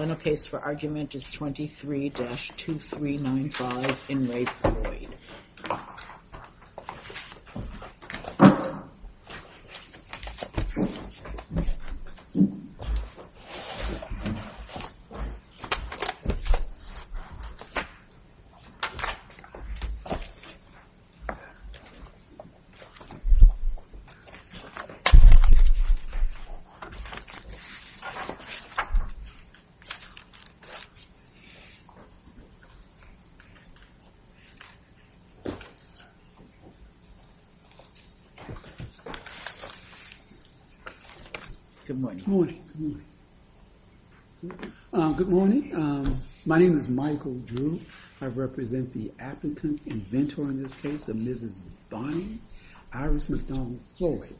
Final case for argument is 23-2395 in Rape, Floyd. Good morning, my name is Michael Drew. I represent the applicant inventor in this case of Mrs. Bonnie Iris McDonald Floyd.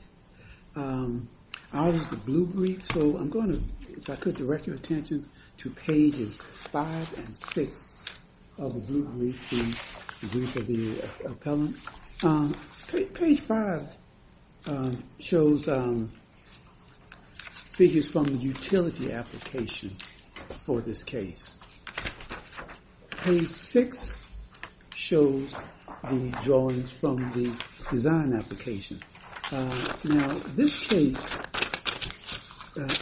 I was the blue brief. So I'm going to, if I could direct your attention to pages 5 and 6 of the blue brief of the appellant. Page 5 shows figures from the utility application for this case. Page 6 shows the drawings from the design application. Now this case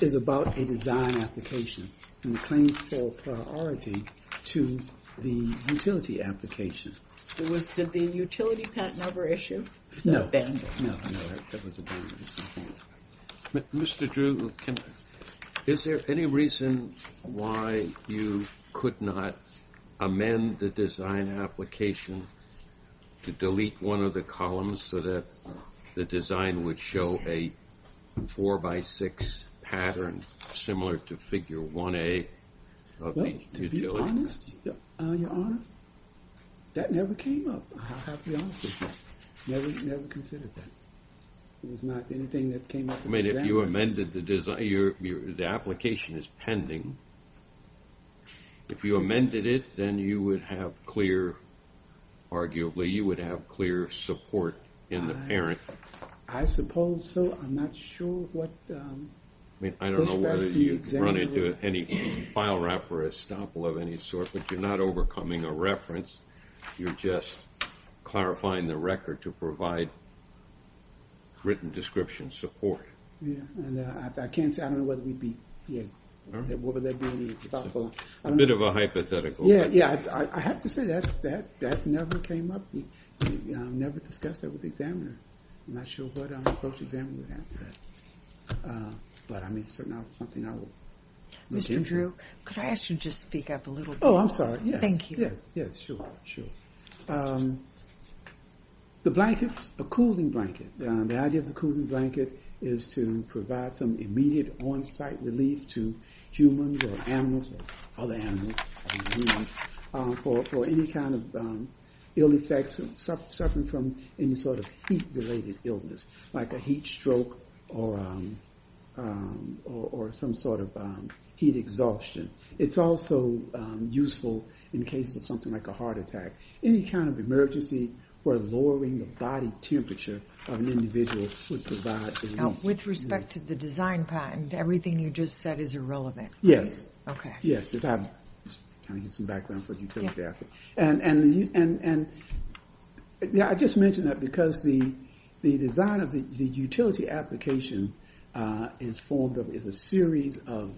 is about a design application and claims for priority to the utility application. It was, did the utility patent number issue? No. Mr. Drew, is there any reason why you could not amend the design application to delete one of the columns so that the design would show a 4 by 6 pattern similar to figure 1A? To be honest, your honor, that never came up. I'll have to be honest with you. Never considered that. It was not anything that came up. I mean if you amended the design, the application is pending. If you amended it, then you would have clear, arguably, you would have clear support in the parent. I suppose so. I'm not sure what... I mean, I don't know whether you'd run into any file wrap or estoppel of any sort, but you're not overcoming a reference. You're just clarifying the record to provide written description support. I can't say, I don't know whether we'd be, what would that be, estoppel. A bit of a hypothetical. I have to say that never came up. Never discussed that with the examiner. I'm not sure what approach the examiner would have to that. But I mean, certainly not something I would... Mr. Drew, could I ask you to speak up a little bit more? Oh, I'm sorry, yes. Thank you. Yes, sure. The blanket, a cooling blanket. The idea of the cooling blanket is to provide some immediate on-site relief to humans or animals, other animals, for any kind of ill effects, suffering from any sort of heat-related illness, like a heat stroke or some sort of heat exhaustion. It's also useful in cases of something like a heart attack, any kind of emergency where lowering the body temperature of an individual would provide relief. Now, with respect to the design patent, everything you just said is irrelevant. Yes. I just mentioned that because the design of the utility application is a series of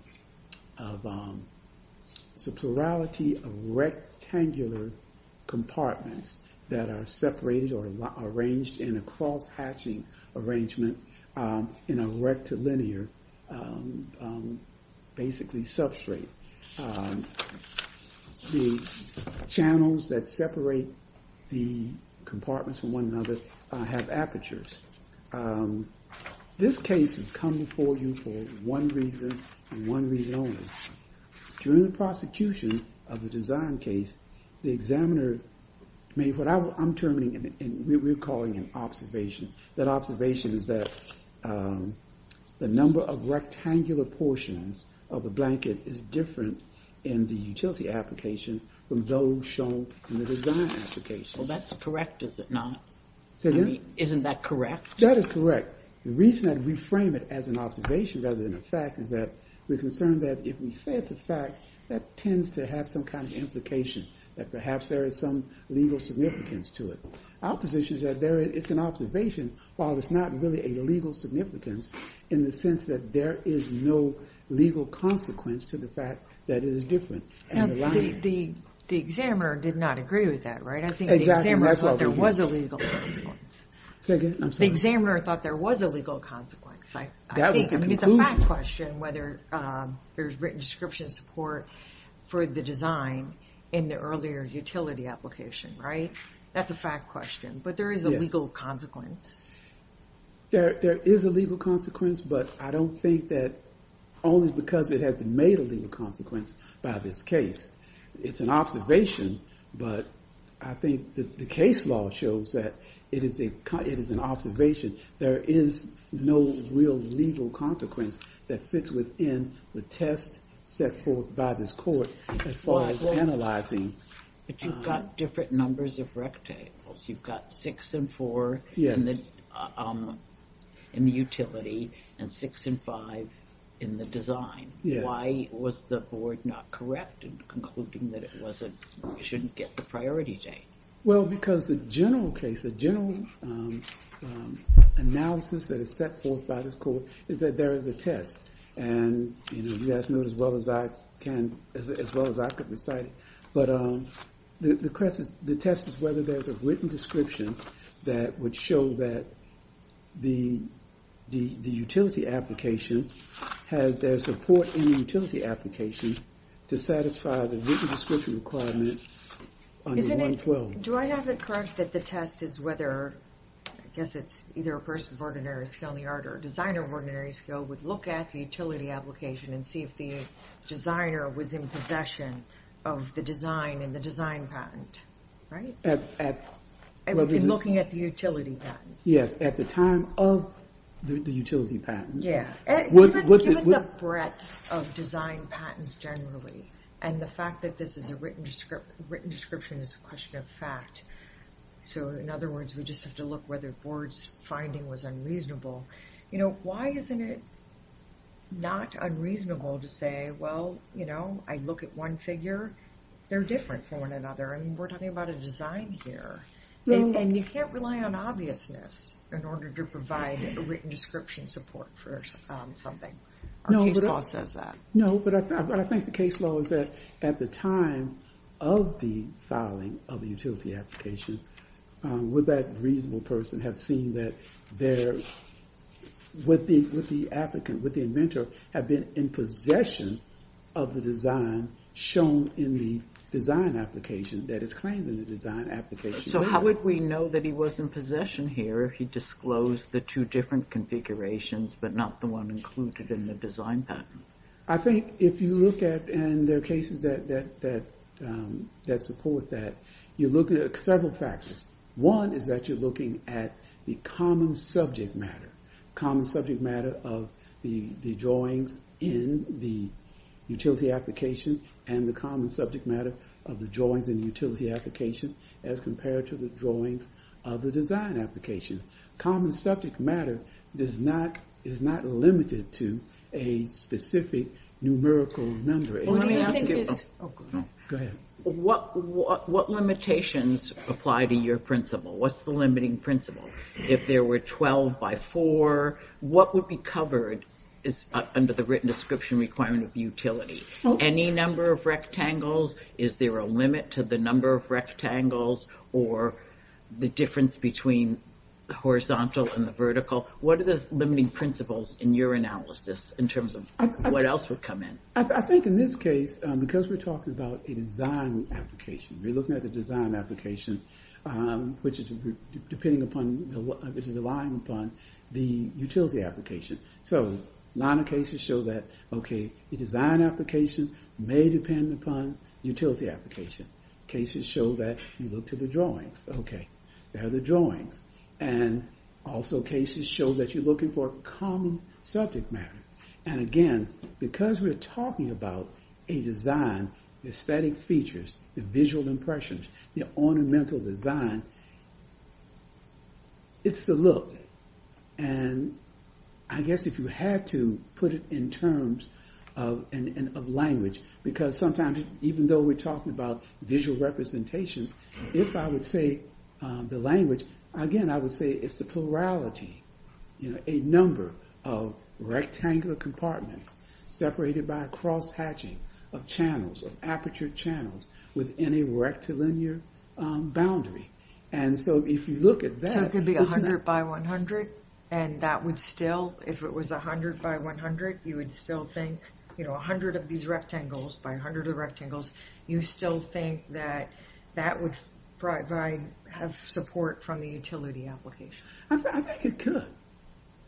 subterrality of rectangular compartments that are separated or arranged in a cross-hatching arrangement in a rectilinear, basically, substrate. The channels that separate the compartments from one another have apertures. This case has come before you for one reason and one reason only. During the prosecution of the design case, the examiner made what I'm terming and we're calling an observation. That observation is that the number of rectangular portions of a blanket is different in the utility application from those shown in the design application. Well, that's correct, is it not? Say again? Isn't that correct? That is correct. The reason that we frame it as an observation rather than a fact is that we're concerned that if we say it's a fact, that tends to have some kind of implication, that perhaps there is some legal significance to it. Our position is that it's an observation, while it's not really a legal significance in the sense that there is no legal consequence to the fact that it is different. The examiner did not agree with that, right? I think the examiner thought there was a legal consequence. Say again? The examiner thought there was a legal consequence. I think it's a fact question whether there's written description support for the design in the earlier utility application, right? That's a fact question, but there is a legal consequence. There is a legal consequence, but I don't think that only because it has been made a legal consequence by this case. It's an observation, but I think the case law shows that it is an observation. There is no real legal consequence that fits within the test set forth by this court as far as analyzing. But you've got different numbers of rectangles. You've got six and four in the utility and six and five in the design. Why was the board not correct in concluding that it shouldn't get the priority date? Well, because the general case, the general analysis that is set forth by this court is that there is a test. And, you know, you guys know it as well as I can, as well as I could recite it. But the test is whether there's a written description that would show that the utility application has their support in the utility application to satisfy the written description requirement under 112. Do I have it correct that the test is whether, I guess it's either a person of ordinary skill in the art or a designer of ordinary skill, would look at the utility application and see if the designer was in possession of the design and the design patent, right? In looking at the utility patent. Yes, at the time of the utility patent. Given the breadth of design patents generally, and the fact that this is a written description is a question of fact. So, in other words, we just have to look whether the board's finding was unreasonable. You know, why isn't it not unreasonable to say, well, you know, I look at one figure, they're different from one another. And we're talking about a design here. And you can't rely on obviousness in order to provide a written description support for something. Our case law says that. No, but I think the case law is that at the time of the filing of the utility application, would that reasonable person have seen that their, with the applicant, with the inventor, have been in possession of the design shown in the design application, that is claimed in the design application. So how would we know that he was in possession here if he disclosed the two different configurations, but not the one included in the design patent? I think if you look at, and there are cases that support that, you look at several factors. One is that you're looking at the common subject matter. Common subject matter of the drawings in the utility application and the common subject matter of the drawings in the utility application as compared to the drawings of the design application. Common subject matter is not limited to a specific numerical number. Let me ask you this. Go ahead. What limitations apply to your principle? What's the limiting principle? If there were 12 by 4, what would be covered under the written description requirement of the utility? Any number of rectangles? Is there a limit to the number of rectangles or the difference between the horizontal and the vertical? What are the limiting principles in your analysis in terms of what else would come in? I think in this case, because we're talking about a design application, we're looking at a design application, which is depending upon, which is relying upon the utility application. So, a lot of cases show that, okay, the design application may depend upon utility application. Cases show that you look to the drawings. Okay, there are the drawings. And also cases show that you're looking for common subject matter. And again, because we're talking about a design, the aesthetic features, the visual impressions, the ornamental design, it's the look. And I guess if you had to put it in terms of language, because sometimes even though we're talking about visual representations, if I would say the language, again, I would say it's the plurality. You know, a number of rectangular compartments separated by a cross-hatching of channels, of aperture channels within a rectilinear boundary. And so, if you look at that... So, it could be 100 by 100? And that would still, if it was 100 by 100, you would still think, you know, 100 of these rectangles by 100 of the rectangles, you still think that that would have support from the utility application? I think it could.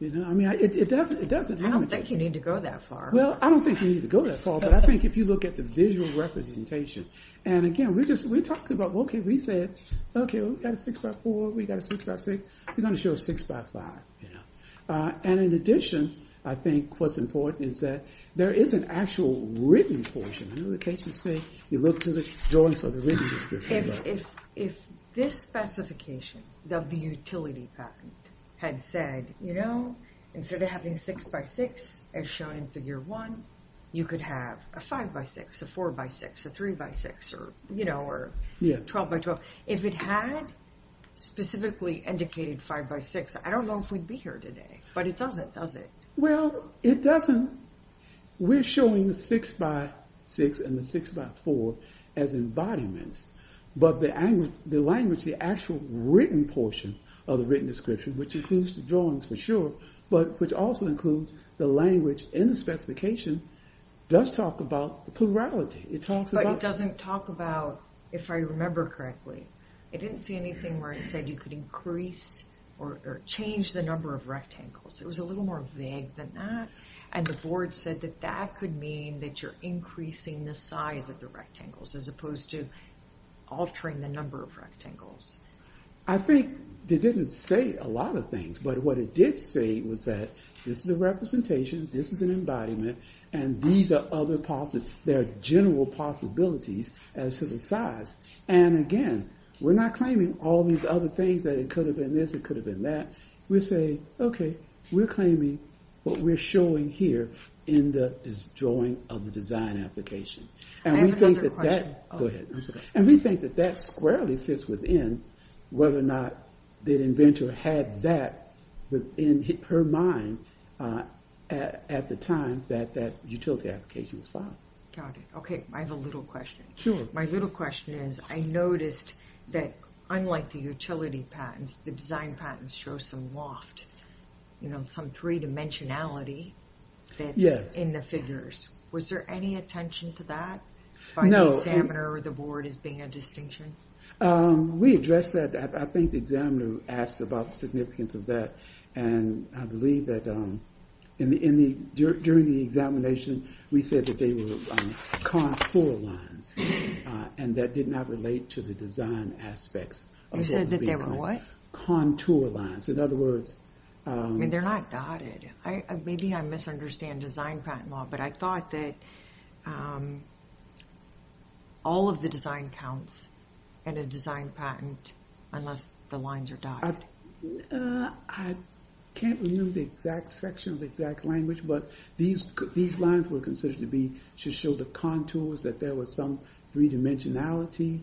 You know, I mean, it doesn't... I don't think you need to go that far. Well, I don't think you need to go that far, but I think if you look at the visual representation, and again, we're just, we're talking about, okay, we said, okay, we've got a six by four, we've got a six by six, we're gonna show a six by five, you know. And in addition, I think what's important is that there is an actual written portion. In other cases, say, you look to the drawings for the written description. If this specification of the utility patent had said, you know, instead of having six by six, as shown in figure one, you could have a five by six, a four by six, a three by six, or, you know, or 12 by 12. If it had specifically indicated five by six, I don't know if we'd be here today, but it doesn't, does it? Well, it doesn't. We're showing the six by six and the six by four as embodiments. But the language, the actual written portion of the written description, which includes the drawings for sure, but which also includes the language in the specification, does talk about the plurality. It talks about... But it doesn't talk about, if I remember correctly, it didn't say anything where it said you could increase or change the number of rectangles. It was a little more vague than that. And the board said that that could mean that you're increasing the size of the rectangles, as opposed to altering the number of rectangles. I think they didn't say a lot of things. But what it did say was that this is a representation, this is an embodiment, and these are other possible... there are general possibilities as to the size. And again, we're not claiming all these other things, that it could have been this, it could have been that. We're saying, okay, we're claiming what we're showing here in this drawing of the design application. And we think that that... whether or not the inventor had that in her mind at the time that that utility application was filed. Got it. Okay, I have a little question. My little question is, I noticed that unlike the utility patents, the design patents show some loft, some three-dimensionality that's in the figures. Was there any attention to that by the examiner or the board as being a distinction? We addressed that. I think the examiner asked about the significance of that. And I believe that during the examination, we said that they were contour lines, and that did not relate to the design aspects. You said that they were what? Contour lines. In other words... I mean, they're not dotted. Maybe I misunderstand design patent law, but I thought that all of the design counts in a design patent unless the lines are dotted. I can't remember the exact section of the exact language, but these lines were considered to show the contours, that there was some three-dimensionality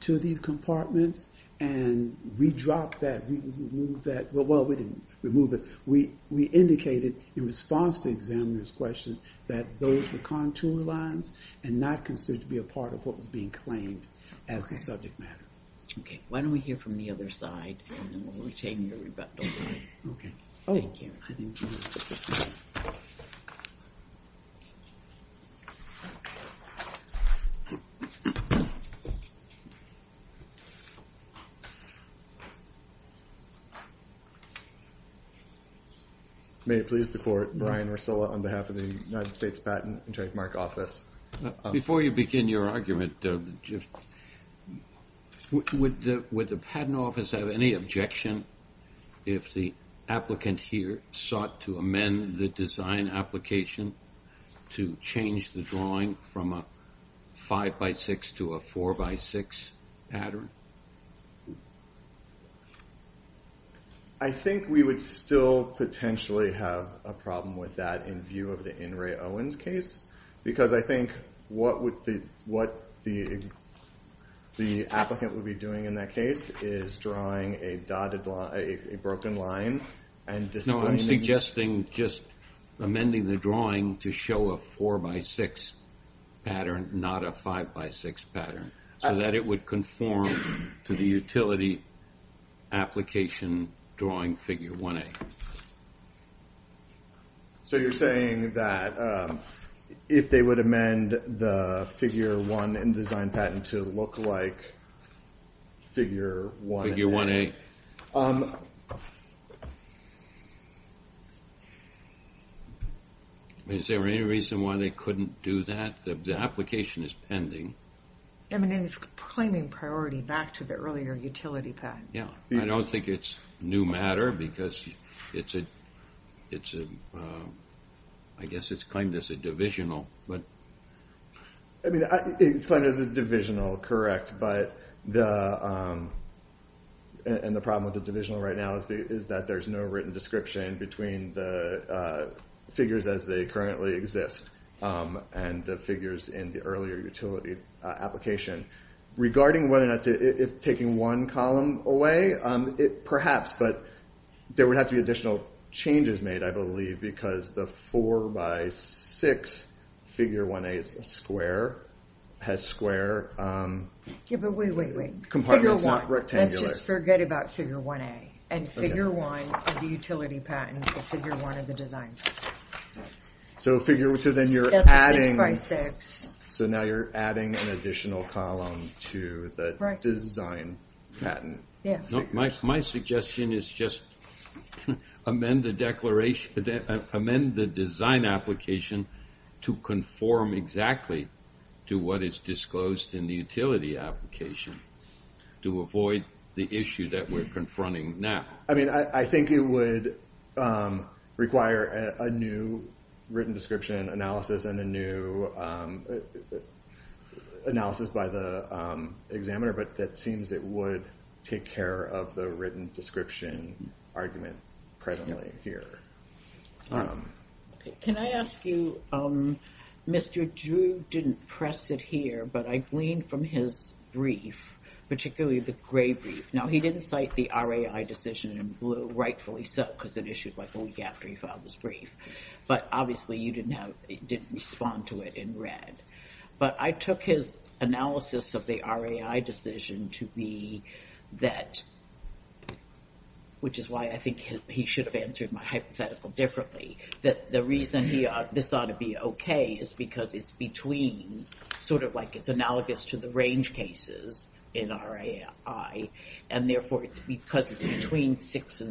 to these compartments. And we dropped that. We removed that. Well, we didn't remove it. We indicated in response to the examiner's question that those were contour lines and not considered to be a part of what was being claimed as the subject matter. Okay. Why don't we hear from the other side, and then we'll retain your rebuttal. Okay. Thank you. May it please the court, Brian Ursula on behalf of the United States Patent and Trademark Office. Before you begin your argument, would the patent office have any objection if the applicant here sought to amend the design application to change the drawing from a five-by-six to a four-by-six pattern? I think we would still potentially have a problem with that in view of the In Re Owens case, because I think what the applicant would be doing in that case is drawing a dotted line, a broken line, and displaying the... No, I'm suggesting just amending the drawing to show a four-by-six pattern, not a five-by-six pattern, so that it would conform to the utility application drawing figure 1A. So you're saying that if they would amend the figure 1 in design patent to look like figure 1A. Is there any reason why they couldn't do that? The application is pending. I mean, it is claiming priority back to the earlier utility patent. Yeah, I don't think it's new matter, because it's a... I guess it's claimed as a divisional, but... I mean, it's claimed as a divisional, correct, but the... And the problem with the divisional right now is that there's no written description between the figures as they currently exist and the figures in the earlier utility application. Regarding whether or not to... If taking one column away, perhaps, but there would have to be additional changes made, I believe, because the four-by-six figure 1A has square... Yeah, but wait, wait, wait. Compartments, not rectangular. Let's just forget about figure 1A, and figure 1 of the utility patent to figure 1 of the design patent. So then you're adding... That's a six-by-six. So now you're adding an additional column to the design patent. Yeah. My suggestion is just amend the design application to conform exactly to what is disclosed in the utility application to avoid the issue that we're confronting now. I mean, I think it would require a new written description analysis and a new analysis by the examiner, but that seems it would take care of the written description argument presently here. Can I ask you, Mr. Drew didn't press it here, but I gleaned from his brief, particularly the gray brief. Now, he didn't cite the RAI decision in blue, rightfully so, because it issued like a week after he filed his brief, but obviously you didn't respond to it in red. But I took his analysis of the RAI decision to be that, which is why I think he should have answered my hypothetical differently, that the reason this ought to be okay is because it's between, sort of like it's analogous to the range cases in RAI, and therefore it's because it's between six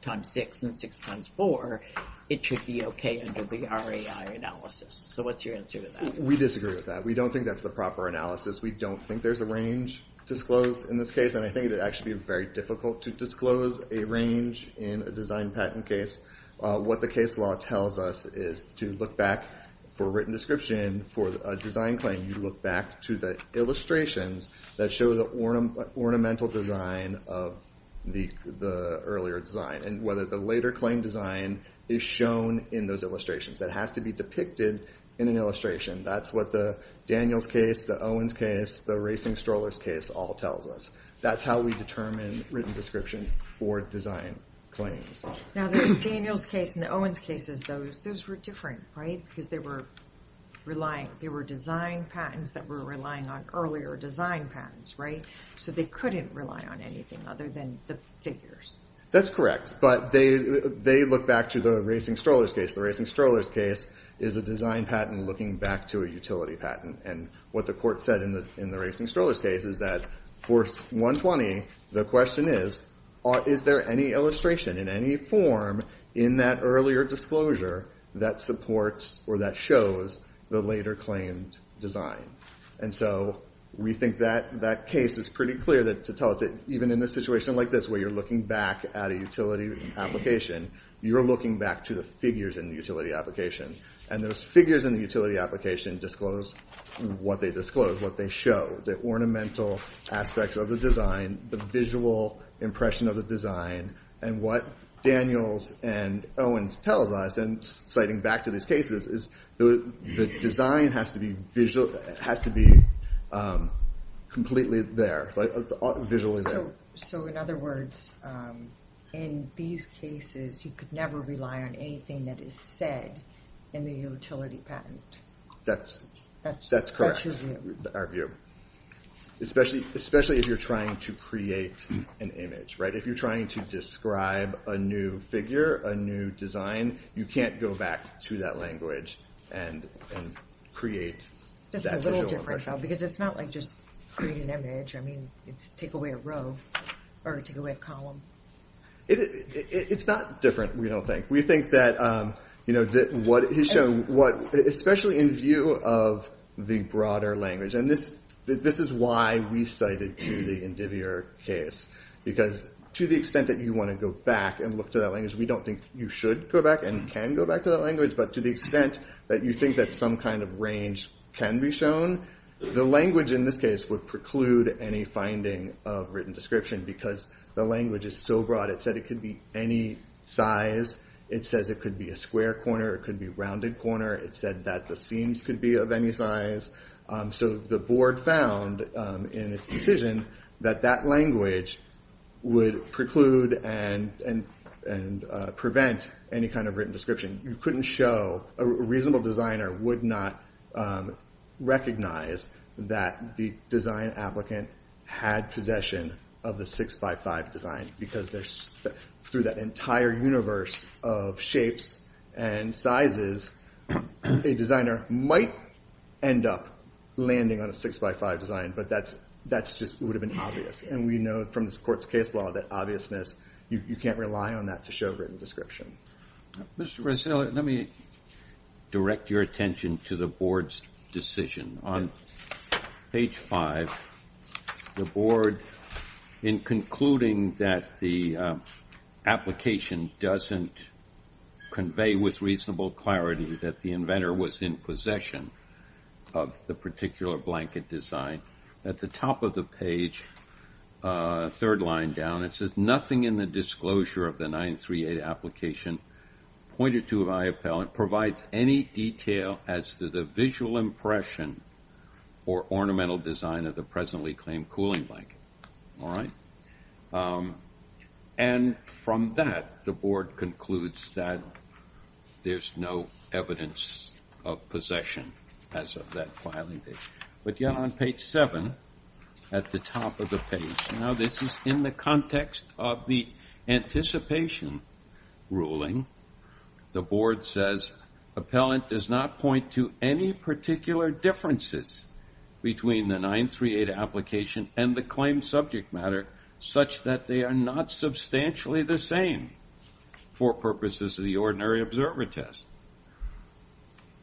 times six and six times four, it should be okay under the RAI analysis. So what's your answer to that? We disagree with that. We don't think that's the proper analysis. We don't think there's a range disclosed in this case, and I think it would actually be very difficult to disclose a range in a design patent case. What the case law tells us is to look back for written description for a design claim, you look back to the illustrations that show the ornamental design of the earlier design, and whether the later claim design is shown in those illustrations. That has to be depicted in an illustration. That's what the Daniels case, the Owens case, the racing strollers case all tells us. That's how we determine written description for design claims. Now the Daniels case and the Owens cases, those were different, right? Because they were design patents that were relying on earlier design patents, right? So they couldn't rely on anything other than the figures. That's correct, but they look back to the racing strollers case. The racing strollers case is a design patent looking back to a utility patent, and what the court said in the racing strollers case is that for 120, the question is, is there any illustration in any form in that earlier disclosure that supports or that shows the later claimed design? And so we think that case is pretty clear to tell us that even in a situation like this where you're looking back at a utility application, you're looking back to the figures in the utility application, and those figures in the utility application disclose what they disclose, what they show, the ornamental aspects of the design, the visual impression of the design, and what Daniels and Owens tells us, and citing back to these cases, is the design has to be completely there, visually there. So in other words, in these cases you could never rely on anything that is said in the utility patent. That's correct, our view. Especially if you're trying to create an image, right? If you're trying to describe a new figure, a new design, you can't go back to that language and create that visual impression. That's a little different, though, because it's not like just create an image. I mean, it's take away a row or take away a column. It's not different, we don't think. Especially in view of the broader language, and this is why we cited to the Indivier case, because to the extent that you want to go back and look to that language, we don't think you should go back and can go back to that language, but to the extent that you think that some kind of range can be shown, the language in this case would preclude any finding of written description because the language is so broad, it said it could be any size, it says it could be a square corner, it could be a rounded corner, it said that the seams could be of any size, so the board found in its decision that that language would preclude and prevent any kind of written description. You couldn't show, a reasonable designer would not recognize that the design applicant had possession of the 6x5 design because through that entire universe of shapes and sizes, a designer might end up landing on a 6x5 design, but that just would have been obvious, and we know from this court's case law that obviousness, you can't rely on that to show written description. Mr. Brasile, let me direct your attention to the board's decision. On page 5, the board, in concluding that the application doesn't convey with reasonable clarity that the inventor was in possession of the particular blanket design, at the top of the page, third line down, it says nothing in the disclosure of the 938 application pointed to IOPEL provides any detail as to the visual impression or ornamental design of the presently claimed cooling blanket. And from that, the board concludes that there's no evidence of possession as of that filing date. But yet on page 7, at the top of the page, now this is in the context of the anticipation ruling, the board says appellant does not point to any particular differences between the 938 application and the claimed subject matter such that they are not substantially the same for purposes of the ordinary observer test.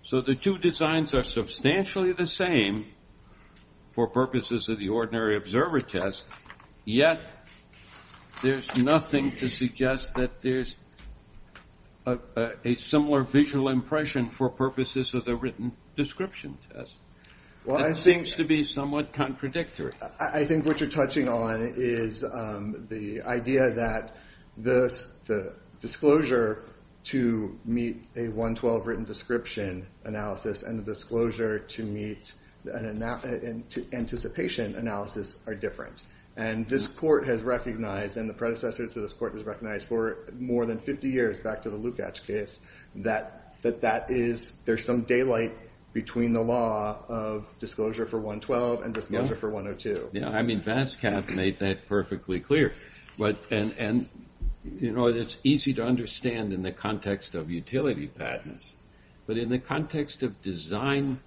So the two designs are substantially the same for purposes of the ordinary observer test, yet there's nothing to suggest that there's a similar visual impression for purposes of the written description test. It seems to be somewhat contradictory. I think what you're touching on is the idea that the disclosure to meet a 112 written description analysis and the disclosure to meet an anticipation analysis are different. And this court has recognized, and the predecessors of this court have recognized for more than 50 years back to the Lukacs case, that there's some daylight between the law of disclosure for 112 and disclosure for 102. Yeah, I mean, Vascav made that perfectly clear. And it's easy to understand in the context of utility patents. But in the context of design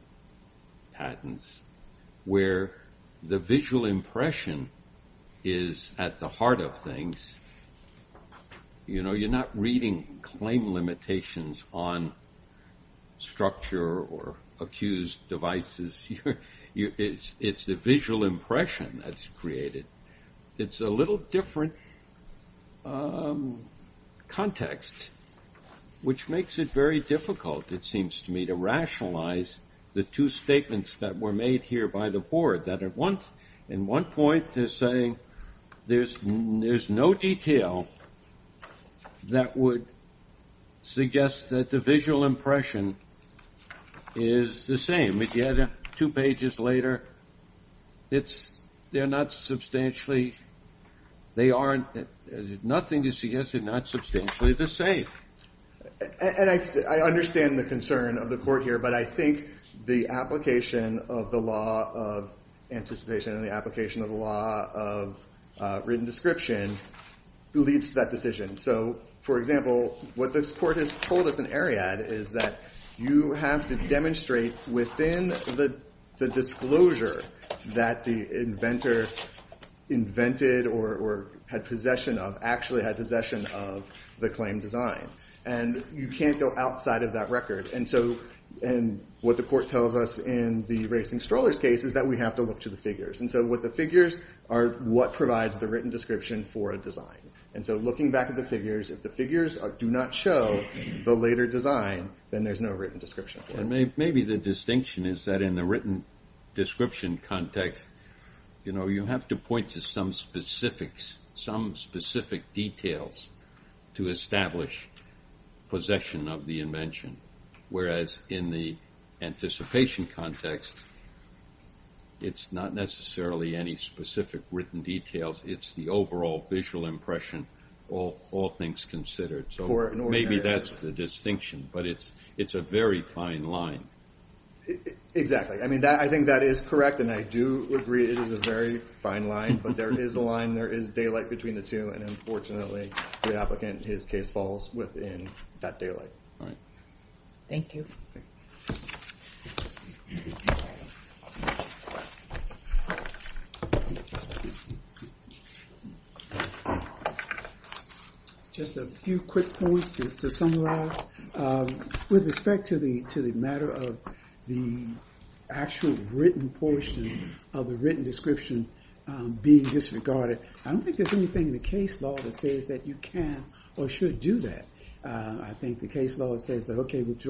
patents, where the visual impression is at the heart of things, you're not reading claim limitations on structure or accused devices. It's the visual impression that's created. It's a little different context, which makes it very difficult, it seems to me, to rationalize the two statements that were made here by the board, that at one point they're saying there's no detail that would suggest that the visual impression is the same. If you add two pages later, they're not substantially the same. And I understand the concern of the court here, but I think the application of the law of anticipation and the application of the law of written description leads to that decision. So, for example, what this court has told us in Ariad is that you have to demonstrate within the disclosure that the inventor invented or had possession of, the claimed design. And you can't go outside of that record. And what the court tells us in the racing strollers case is that we have to look to the figures. And so what the figures are, what provides the written description for a design. And so looking back at the figures, if the figures do not show the later design, then there's no written description. Maybe the distinction is that in the written description context, you have to point to some specific details to establish possession of the invention. Whereas in the anticipation context, it's not necessarily any specific written details. It's the overall visual impression, all things considered. So maybe that's the distinction, but it's a very fine line. Exactly. I mean, I think that is correct. And I do agree it is a very fine line. But there is a line, there is daylight between the two. And unfortunately, the applicant, his case falls within that daylight. All right. Thank you. Just a few quick points to summarize. With respect to the matter of the actual written portion of the written description being disregarded, I don't think there's anything in the case law that says that you can or should do that. I think the case law says that, okay, with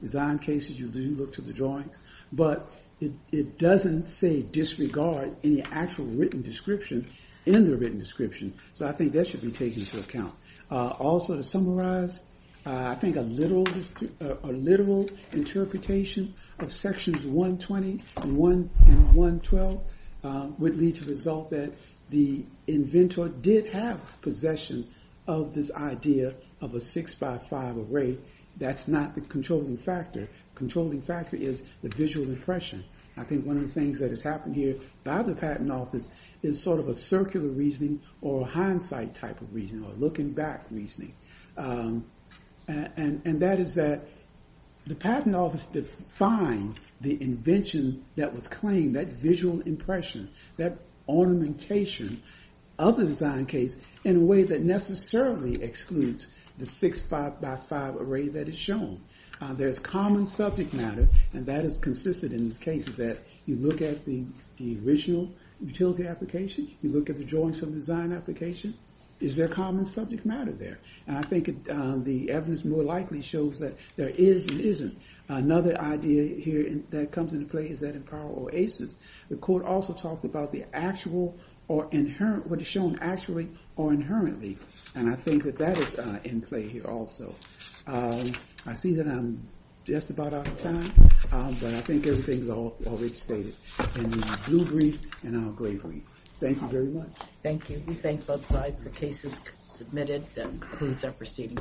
design cases, you do look to the drawings. But it doesn't say disregard any actual written description in the written description. So I think that should be taken into account. Also to summarize, I think a literal interpretation of sections 120 and 112 would lead to the result that the inventor did have possession of this idea of a 6 by 5 array. That's not the controlling factor. The controlling factor is the visual impression. I think one of the things that has happened here by the Patent Office is sort of a circular reasoning or hindsight type of reasoning or looking back reasoning. And that is that the Patent Office defined the invention that was claimed, that visual impression, that ornamentation of the design case in a way that necessarily excludes the 6 by 5 array that is shown. There's common subject matter, and that has consisted in these cases that you look at the original utility application, you look at the drawings from the design application, is there common subject matter there? And I think the evidence more likely shows that there is and isn't. Another idea here that comes into play is that in Powell Oasis, the court also talked about what is shown actually or inherently. And I think that that is in play here also. I see that I'm just about out of time, but I think everything is already stated in the blue brief and our gray brief. Thank you very much. Thank you. We thank both sides. The case is submitted. That concludes our proceeding.